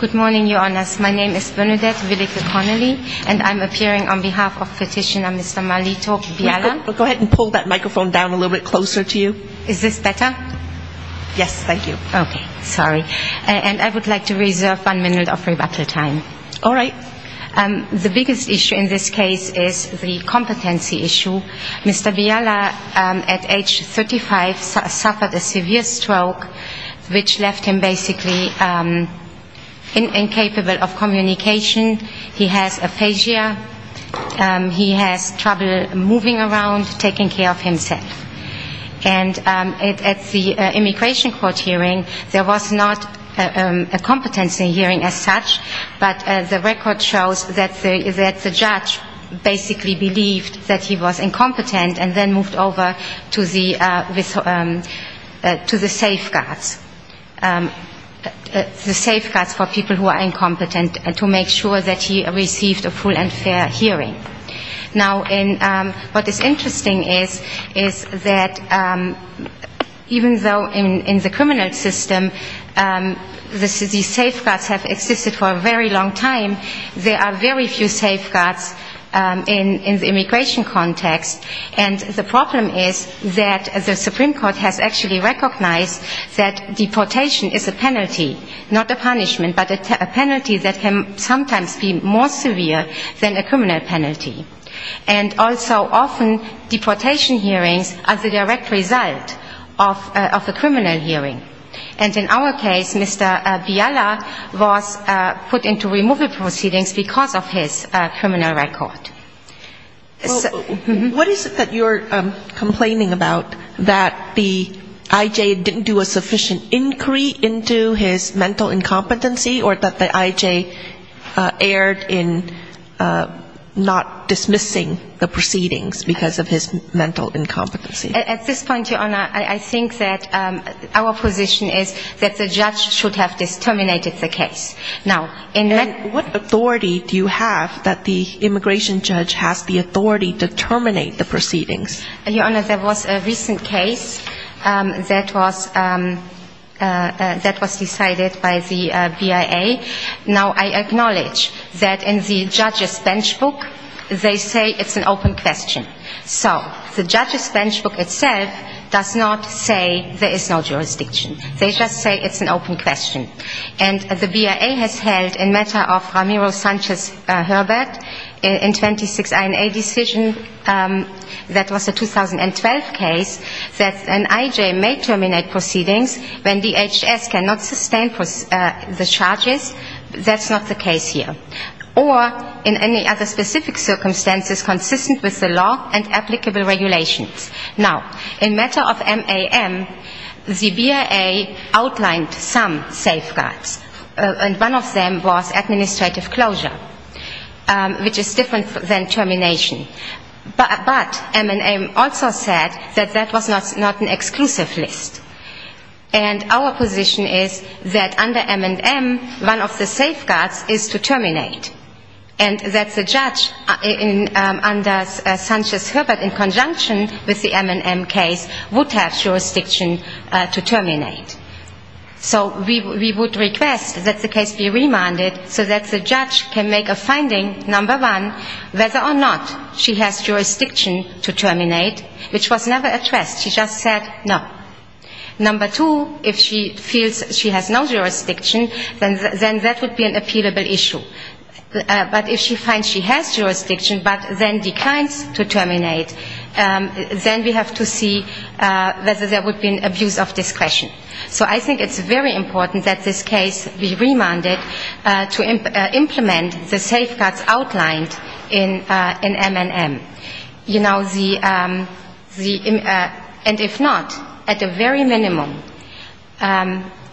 Good morning, Your Honors. My name is Bernadette Willick-Connolly, and I'm appearing on behalf of Petitioner Mr. Marlito Biala. Go ahead and pull that microphone down a little bit closer to you. Is this better? Yes, thank you. Okay, sorry. And I would like to reserve one minute of rebuttal time. All right. The biggest issue in this case is the competency issue. Mr. Biala, at age 35, suffered a severe stroke, which left him basically incapable of communication. He has aphasia. He has trouble moving around, taking care of himself. And at the immigration court hearing, there was not a competency hearing as such, but the record shows that the judge basically believed that he was incompetent and then moved over to the safeguards, the safeguards for people who are incompetent, to make sure that he received a full and fair hearing. Now, what is interesting is that even though in the criminal system these safeguards have existed for a very long time, there are very few safeguards in the immigration context. And the problem is that the Supreme Court has actually recognized that deportation is a penalty, not a punishment, but a penalty that can sometimes be more severe than a criminal penalty. And also often deportation hearings are the direct result of a criminal hearing. And in our case, Mr. Biala was put into removal proceedings because of his criminal record. What is it that you're complaining about, that the I.J. didn't do a sufficient inquiry into his mental incompetency or that the I.J. erred in not dismissing the proceedings because of his mental incompetency? At this point, Your Honor, I think that our position is that the judge should have disterminated the case. And what authority do you have that the immigration judge has the authority to terminate the proceedings? Your Honor, there was a recent case that was decided by the BIA. Now, I acknowledge that in the judge's bench book, they say it's an open question. So the judge's bench book itself does not say there is no jurisdiction. They just say it's an open question. And the BIA has held in matter of Ramiro Sanchez-Herbert in 26 INA decision, that was a 2012 case, that an I.J. may terminate proceedings when DHS cannot sustain the charges. That's not the case here. Or in any other specific circumstances consistent with the law and applicable regulations. Now, in matter of MAM, the BIA outlined some safeguards. And one of them was administrative closure, which is different than termination. But M&M also said that that was not an exclusive list. And our position is that under M&M, one of the safeguards is to terminate. And that the judge under Sanchez-Herbert in conjunction with the M&M case would have jurisdiction to terminate. So we would request that the case be remanded so that the judge can make a finding, number one, whether or not she has jurisdiction to terminate, which was never addressed. She just said no. Number two, if she feels she has no jurisdiction, then that would be an appealable issue. But if she finds she has jurisdiction but then declines to terminate, then we have to see whether there would be an abuse of discretion. So I think it's very important that this case be remanded to implement the safeguards outlined in M&M. And if not, at the very minimum,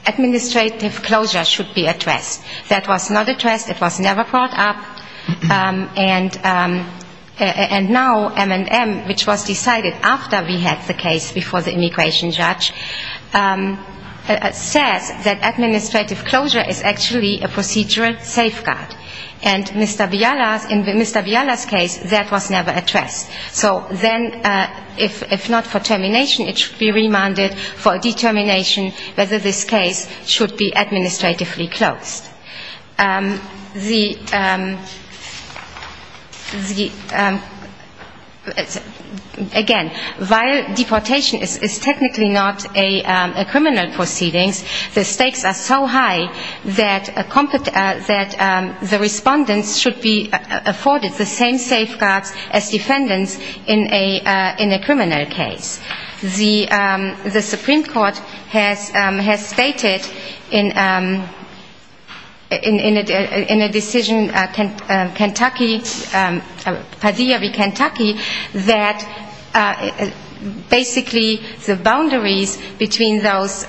administrative closure should be addressed. That was not addressed. It was never brought up. And now M&M, which was decided after we had the case before the immigration judge, says that administrative closure is actually a procedural safeguard. And in Mr. Biala's case, that was never addressed. So then if not for termination, it should be remanded for a determination whether this case should be administratively closed. Again, while deportation is technically not a criminal proceedings, the stakes are so high that the respondents should be afforded the same safeguards as defendants in a criminal case. The Supreme Court has stated in a decision, Padilla v. Kentucky, that basically the boundaries between those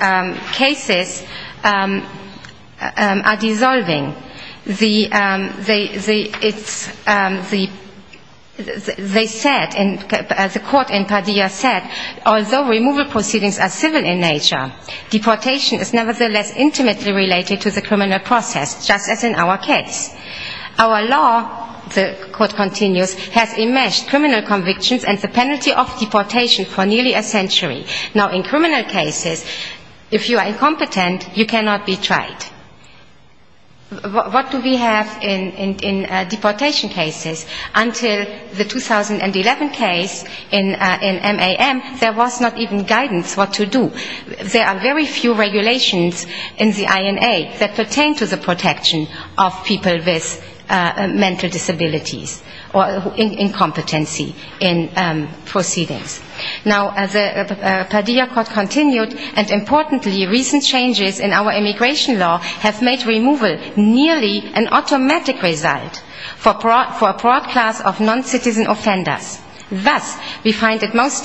cases are dissolving. They said, as the court in Padilla said, although removal proceedings are civil in nature, deportation is nevertheless intimately related to the criminal process, just as in our case. Our law, the court continues, has enmeshed criminal convictions and the penalty of deportation for nearly a century. Now in criminal cases, if you are incompetent, you cannot be tried. What do we have in deportation cases? Until the 2011 case in MAM, there was not even guidance what to do. There are very few regulations in the INA that pertain to the protection of people with mental disabilities or incompetency in proceedings. Now as the Padilla court continued, and importantly recent changes in our immigration law have made removal nearly an automatic result for a broad class of non-citizen offenders. Thus we find it most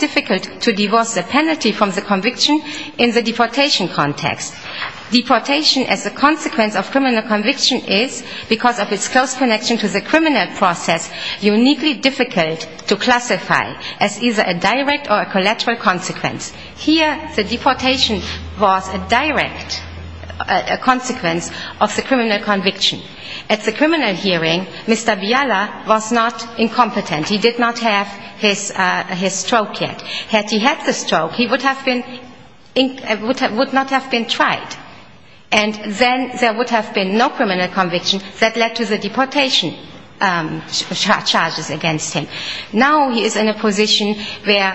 difficult to divorce the penalty from the conviction in the deportation context. Deportation as a consequence of criminal conviction is, because of its close connection to the criminal process, uniquely difficult to classify as either a direct or a collateral consequence. Here the deportation was a direct consequence of the criminal conviction. At the criminal hearing, Mr. Biala was not incompetent. He did not have his stroke yet. Had he had the stroke, he would not have been tried. And then there would have been no criminal conviction that led to the deportation charges against him. Now he is in a position where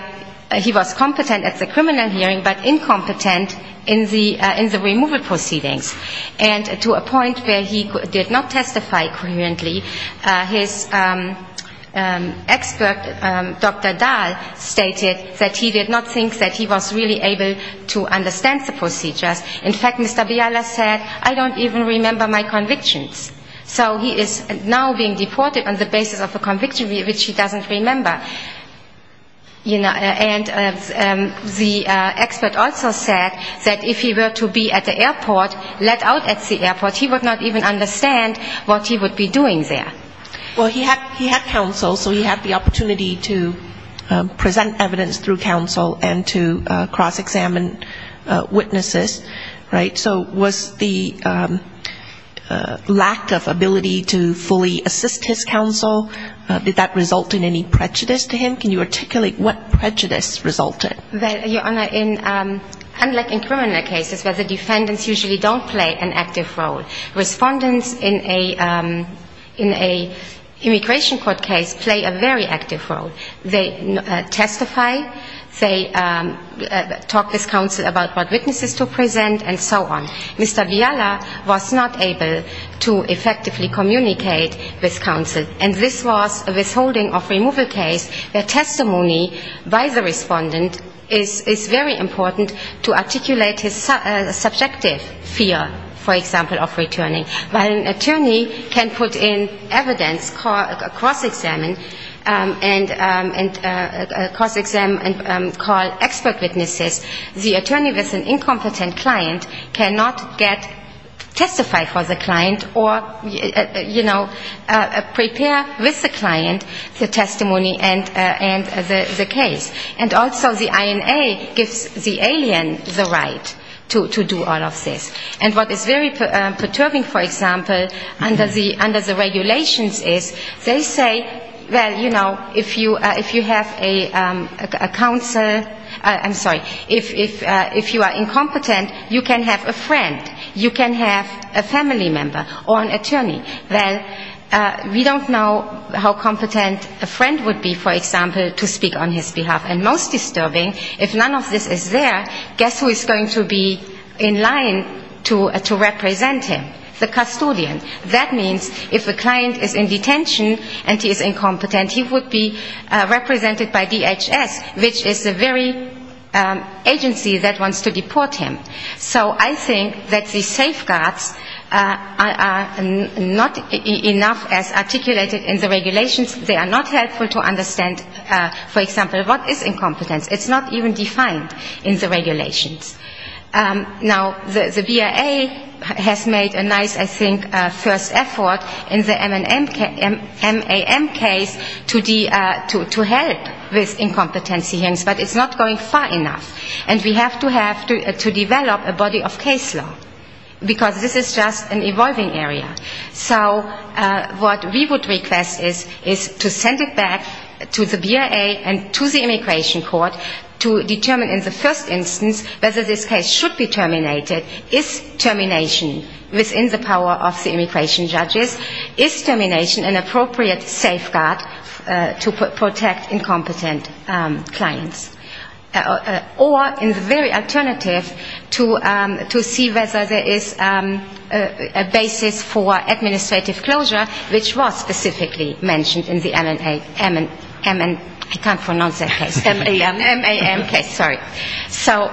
he was competent at the criminal hearing, but incompetent in the removal proceedings. And to a point where he did not testify coherently, his expert, Dr. Dahl, stated that he did not think that he was really able to understand the procedures. In fact, Mr. Biala said, I don't even remember my convictions. So he is now being deported on the basis of a conviction which he doesn't remember. And the expert also said that if he were to be at the airport, let out at the airport, he would not even understand what he would be doing there. Well, he had counsel, so he had the opportunity to present evidence through counsel and to cross-examine witnesses, right? So was the lack of ability to fully assist his counsel, did that result in any prejudice? To him, can you articulate what prejudice resulted? Well, Your Honor, unlike in criminal cases where the defendants usually don't play an active role, respondents in an immigration court case play a very active role. They testify, they talk with counsel about what witnesses to present and so on. Mr. Biala was not able to effectively communicate with counsel. And this was a withholding of removal case where testimony by the respondent is very important to articulate his subjective fear, for example, of returning. When an attorney can put in evidence, cross-examine, and cross-examine and call expert witnesses, the attorney with an incompetent client cannot get testified for the client or, you know, prepare for the case. And also the INA gives the alien the right to do all of this. And what is very perturbing, for example, under the regulations is they say, well, you know, if you have a counsel, I'm sorry, if you are incompetent, you can have a friend, you can have a family member or an attorney. Well, we don't know how competent a friend would be, for example, to speak on his behalf. And most disturbing, if none of this is there, guess who is going to be in line to represent him? The custodian. That means if a client is in detention and he is incompetent, he would be represented by DHS, which is the very agency that wants to deport him. So I think that the safeguards are not enough as articulated in the regulations. They are not helpful to understand, for example, what is incompetence. It's not even defined in the regulations. Now, the BIA has made a nice, I think, first effort in the MAM case to help with incompetency hearings, but it's not going far enough. And we have to have to develop, you know, what are the safeguards. We have to develop a body of case law, because this is just an evolving area. So what we would request is to send it back to the BIA and to the immigration court to determine in the first instance whether this case should be terminated, is termination within the power of the immigration judges, is termination an appropriate safeguard to protect incompetent clients. Or in the very alternative, to see whether there is a basis for administrative closure, which was specifically mentioned in the MAM case. So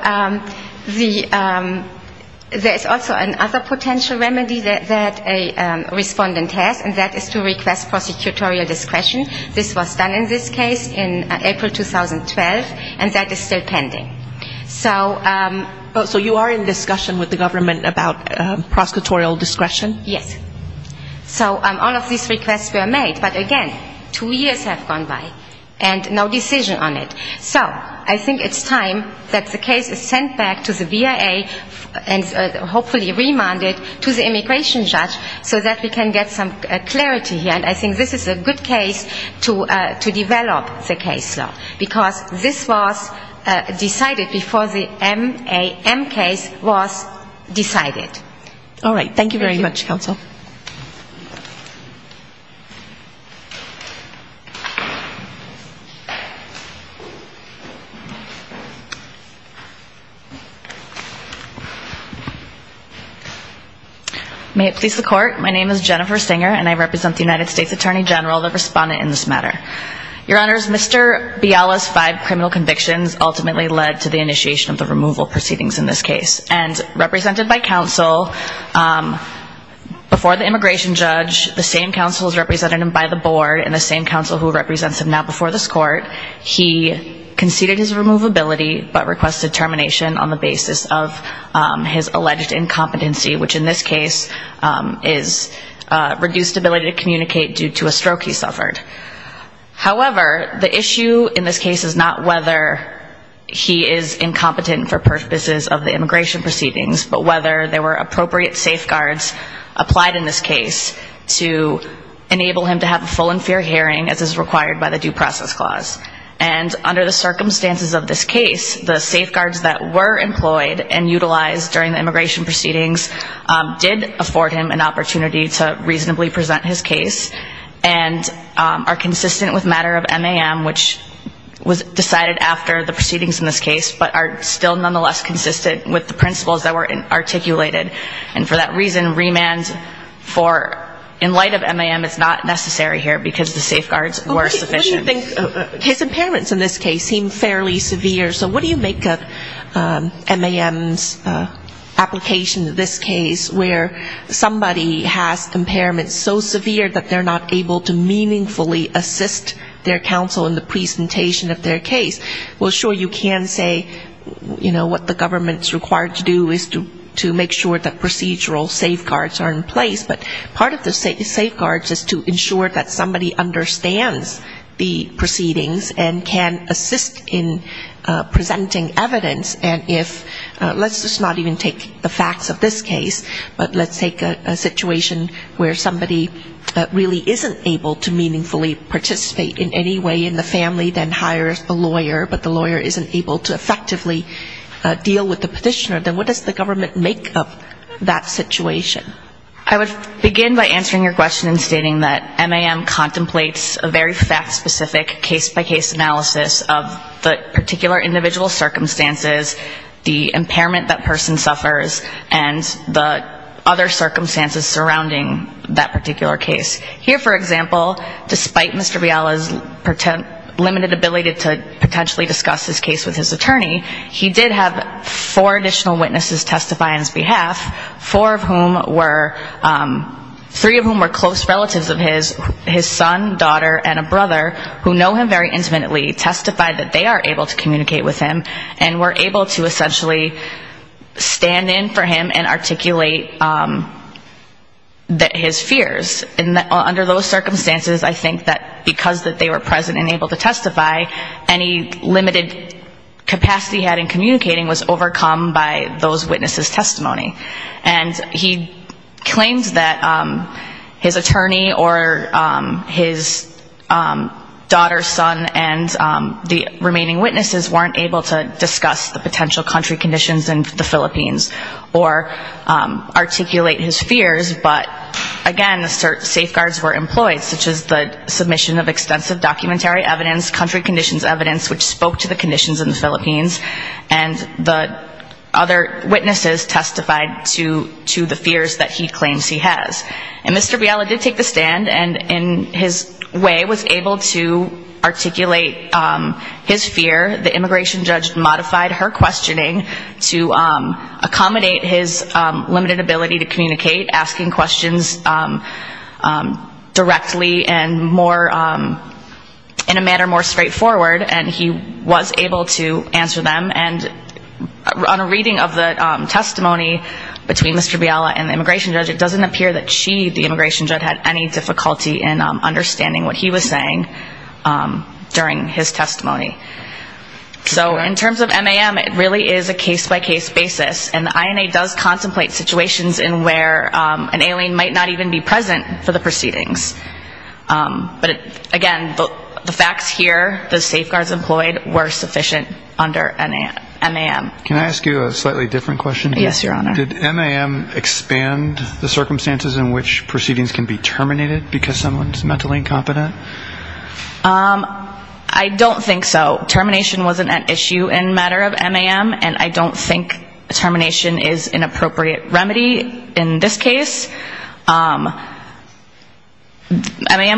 there is also another potential remedy that a respondent has, and that is to request prosecutorial discretion. This was done in this case in April 2012. And that is still pending. So you are in discussion with the government about prosecutorial discretion? Yes. So all of these requests were made. But again, two years have gone by and no decision on it. So I think it's time that the case is sent back to the BIA and hopefully remanded to the immigration judge so that we can get some clarity here. And I think this is a good case to develop the case law. Because this was decided before the MAM case was decided. All right. Thank you very much, counsel. May it please the court. My name is Jennifer Singer and I represent the United States Attorney General, the respondent in this matter. Your honors, Mr. Biala's five criminal convictions ultimately led to the initiation of the removal proceedings in this case. And represented by counsel before the immigration judge, the same counsel is represented by the board and the same counsel who represents him now before this court, he conceded his removability but requested termination on the basis of his alleged incompetency, which in this case is reduced ability to communicate due to a stroke he suffered. However, the issue in this case is not whether he is incompetent for purposes of the immigration proceedings, but whether there were appropriate safeguards applied in this case to enable him to have a full and fair hearing as is required by the due process clause. And under the circumstances of this case, the safeguards that were employed and utilized during the immigration proceedings did afford him an opportunity to reasonably present his case and are consistent with the statute. They are consistent with matter of MAM, which was decided after the proceedings in this case, but are still nonetheless consistent with the principles that were articulated. And for that reason, remand for in light of MAM is not necessary here, because the safeguards were sufficient. What do you think, case impairments in this case seem fairly severe, so what do you make of MAM's application in this case where somebody has impairments so severe that they're not able to meaningfully assist the case? Well, sure, you can say, you know, what the government's required to do is to make sure that procedural safeguards are in place, but part of the safeguards is to ensure that somebody understands the proceedings and can assist in presenting evidence, and if let's just not even take the facts of this case, but let's take a situation where somebody really isn't able to meaningfully participate in the proceedings. If somebody in any way in the family then hires a lawyer, but the lawyer isn't able to effectively deal with the petitioner, then what does the government make of that situation? I would begin by answering your question in stating that MAM contemplates a very fact-specific case-by-case analysis of the particular individual circumstances, the impairment that person suffers, and the other circumstances surrounding that particular case. Here, for example, despite Mr. Biala's limited ability to potentially discuss this case with his attorney, he did have four additional witnesses testify on his behalf, four of whom were close relatives of his son, daughter, and a brother who know him very intimately, testified that they are able to communicate with him, and were able to essentially stand in for him and articulate his fears. Well, under those circumstances, I think that because they were present and able to testify, any limited capacity he had in communicating was overcome by those witnesses' testimony. And he claims that his attorney or his daughter, son, and the remaining witnesses weren't able to discuss the potential country conditions in the Philippines or articulate his fears, but again, the safeguards were in place. Such as the submission of extensive documentary evidence, country conditions evidence, which spoke to the conditions in the Philippines, and the other witnesses testified to the fears that he claims he has. And Mr. Biala did take the stand, and in his way was able to articulate his fear. The immigration judge modified her questioning to accommodate his limited ability to communicate, asking questions to his attorney. And Mr. Biala was able to answer those questions directly and more in a manner more straightforward, and he was able to answer them. And on a reading of the testimony between Mr. Biala and the immigration judge, it doesn't appear that she, the immigration judge, had any difficulty in understanding what he was saying during his testimony. So in terms of MAM, it really is a case-by-case basis, and the INA does contemplate situations in where an alien might not even be present for the proceedings. But again, the facts here, the safeguards employed, were sufficient under MAM. Can I ask you a slightly different question? Yes, your honor. Did MAM expand the circumstances in which proceedings can be terminated because someone's mentally incompetent? I don't think so. Termination wasn't an issue in matter of MAM, and I don't think termination is an appropriate remedy in this case. MAM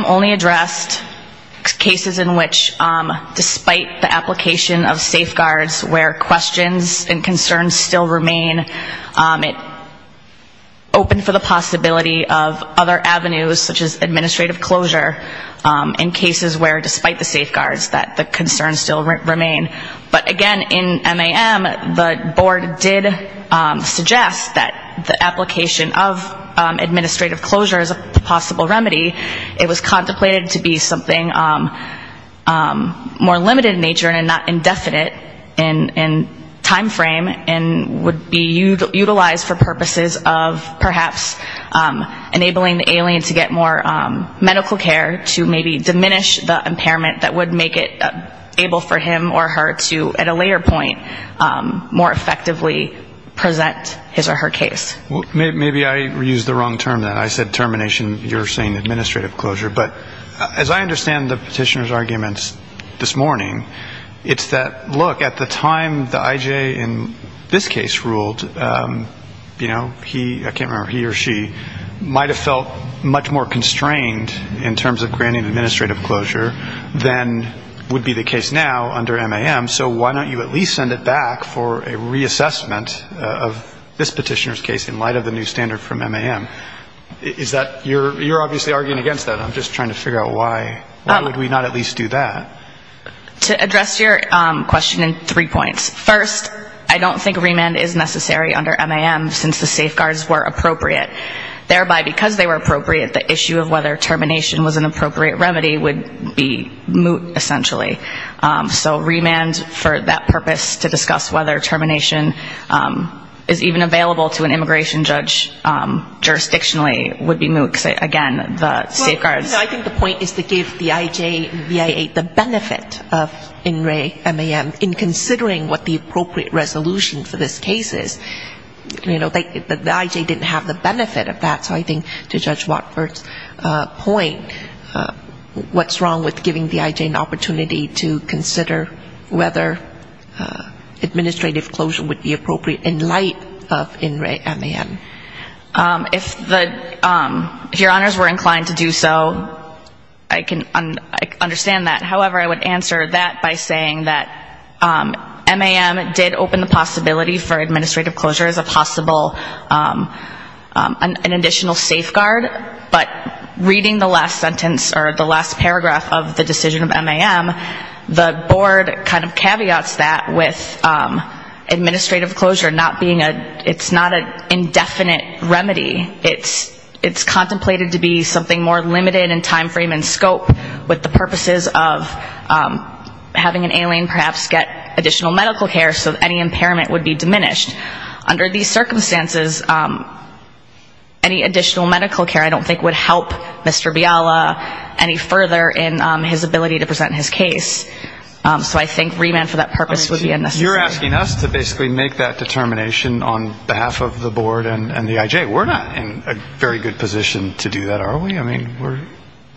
only addressed cases in which, despite the application of safeguards, where questions and concerns still remain, it opened for the possibility of other avenues, such as administrative closure, in cases where, despite the safeguards, that the concerns still remain. But again, in MAM, the board did suggest that the application of administrative closure is a possible remedy. It was contemplated to be something more limited in nature and not indefinite in time frame and would be utilized for purposes of perhaps enabling the alien to get more medical care to maybe diminish the impairment that would make it able for him or her to, at a later point, more effectively present his or her case. Maybe I used the wrong term then. I said termination. You're saying administrative closure. But as I understand the petitioner's arguments this morning, it's that, look, at the time the IJ in this case ruled, you know, he or she might have felt much more constrained in terms of granting administrative closure than would be the case now under MAM, so why don't you at least send it back for a reassessment of this petitioner's case in light of the new standard from MAM. You're obviously arguing against that. I'm just trying to figure out why would we not at least do that. To address your question in three points. First, I don't think remand is necessary under MAM since the safeguards were appropriate. Thereby because they were appropriate, the issue of whether termination was an appropriate remedy would be moot essentially. So remand for that purpose to discuss whether termination is even available to an immigration judge jurisdictionally would be appropriate. Again, the safeguards. I think the point is to give the IJ and BIA the benefit of in re MAM in considering what the appropriate resolution for this case is. The IJ didn't have the benefit of that. So I think to Judge Watford's point, what's wrong with giving the IJ an opportunity to consider whether administrative closure would be appropriate in light of in re MAM. If the, if your honors were inclined to do so, I can understand that. However, I would answer that by saying that MAM did open the possibility for administrative closure as a possible, an additional safeguard. But reading the last sentence or the last paragraph of the decision of MAM, the board kind of caveats that with administrative closure not being a, it's not an indefinite decision. It's not a definite remedy. It's contemplated to be something more limited in time frame and scope with the purposes of having an alien perhaps get additional medical care so any impairment would be diminished. Under these circumstances, any additional medical care I don't think would help Mr. Biala any further in his ability to present his case. So I think remand for that purpose would be unnecessary. You're asking us to basically make that determination on behalf of the board and the IJ. We're not in a very good position to do that, are we? I mean, we're,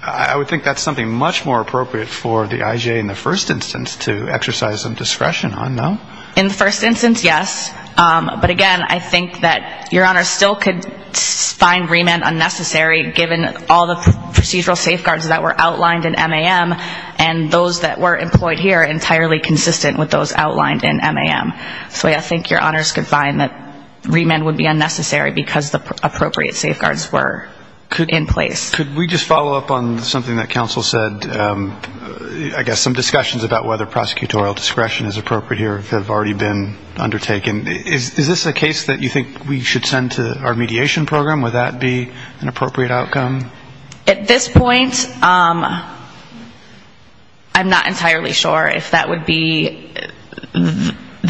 I would think that's something much more appropriate for the IJ in the first instance to exercise some discretion on, no? In the first instance, yes. But again, I think that your honors still could find remand unnecessary given all the procedural safeguards that were outlined in MAM and those that were employed here entirely consistent with those outlined in MAM. So I think your honors could find that remand would be unnecessary because the appropriate safeguards were in place. Could we just follow up on something that counsel said? I guess some discussions about whether prosecutorial discretion is appropriate here have already been undertaken. Is this a case that you think we should send to our mediation program? Would that be an appropriate outcome? At this point, I'm not entirely sure if that would be the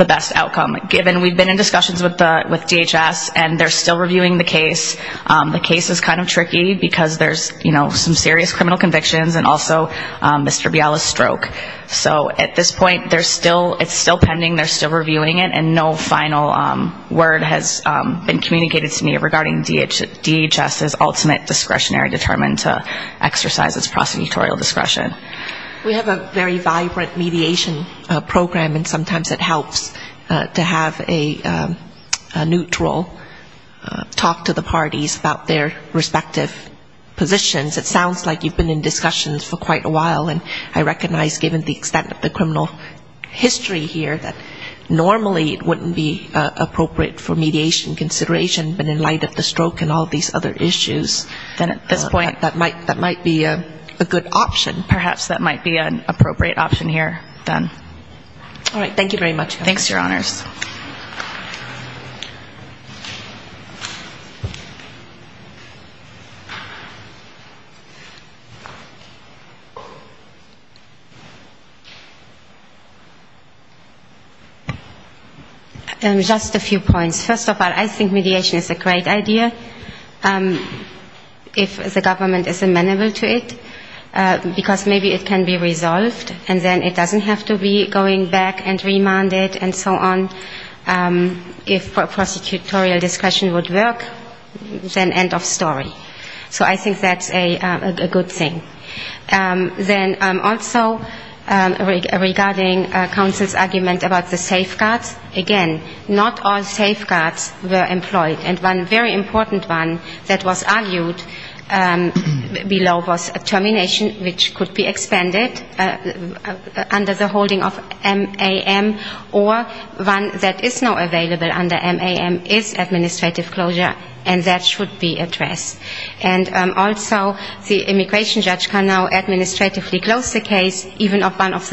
appropriate outcome. Given we've been in discussions with DHS and they're still reviewing the case. The case is kind of tricky because there's, you know, some serious criminal convictions and also Mr. Biala's stroke. So at this point, it's still pending, they're still reviewing it, and no final word has been communicated to me regarding DHS's ultimate discretionary determination to exercise its prosecutorial discretion. We have a very vibrant mediation program and sometimes it helps. To have a neutral talk to the parties about their respective positions. It sounds like you've been in discussions for quite a while. And I recognize given the extent of the criminal history here that normally it wouldn't be appropriate for mediation consideration. But in light of the stroke and all these other issues, that might be a good option. Perhaps that might be an appropriate option here then. All right, thank you very much. Thanks, Your Honors. Just a few points. First of all, I think mediation is a great idea. If the government is amenable to it. Because maybe it can be resolved and then it doesn't have to be going back and remanded and so on. If prosecutorial discretion would work, then end of story. So I think that's a good thing. Then also regarding counsel's argument about the safeguards. Again, not all safeguards were employed. And one very important one that was argued below was termination of the DHS's ultimate discretionary determination. Which could be expended under the holding of MAM. Or one that is now available under MAM is administrative closure. And that should be addressed. And also the immigration judge can now administratively close the case, even if one of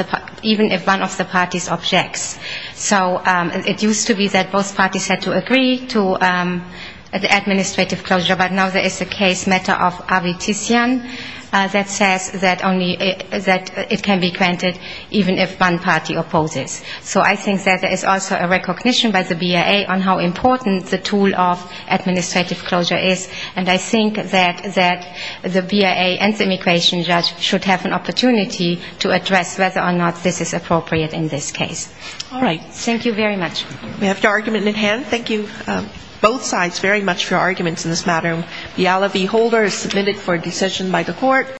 the parties objects. So it used to be that both parties had to agree to the administrative closure. But now there is a case matter of Arvitisian that says that both parties have to agree to the administrative closure. And that only that it can be granted even if one party opposes. So I think that there is also a recognition by the BIA on how important the tool of administrative closure is. And I think that the BIA and the immigration judge should have an opportunity to address whether or not this is appropriate in this case. All right. Thank you very much. We have your argument in hand. Thank you both sides very much for your arguments in this matter.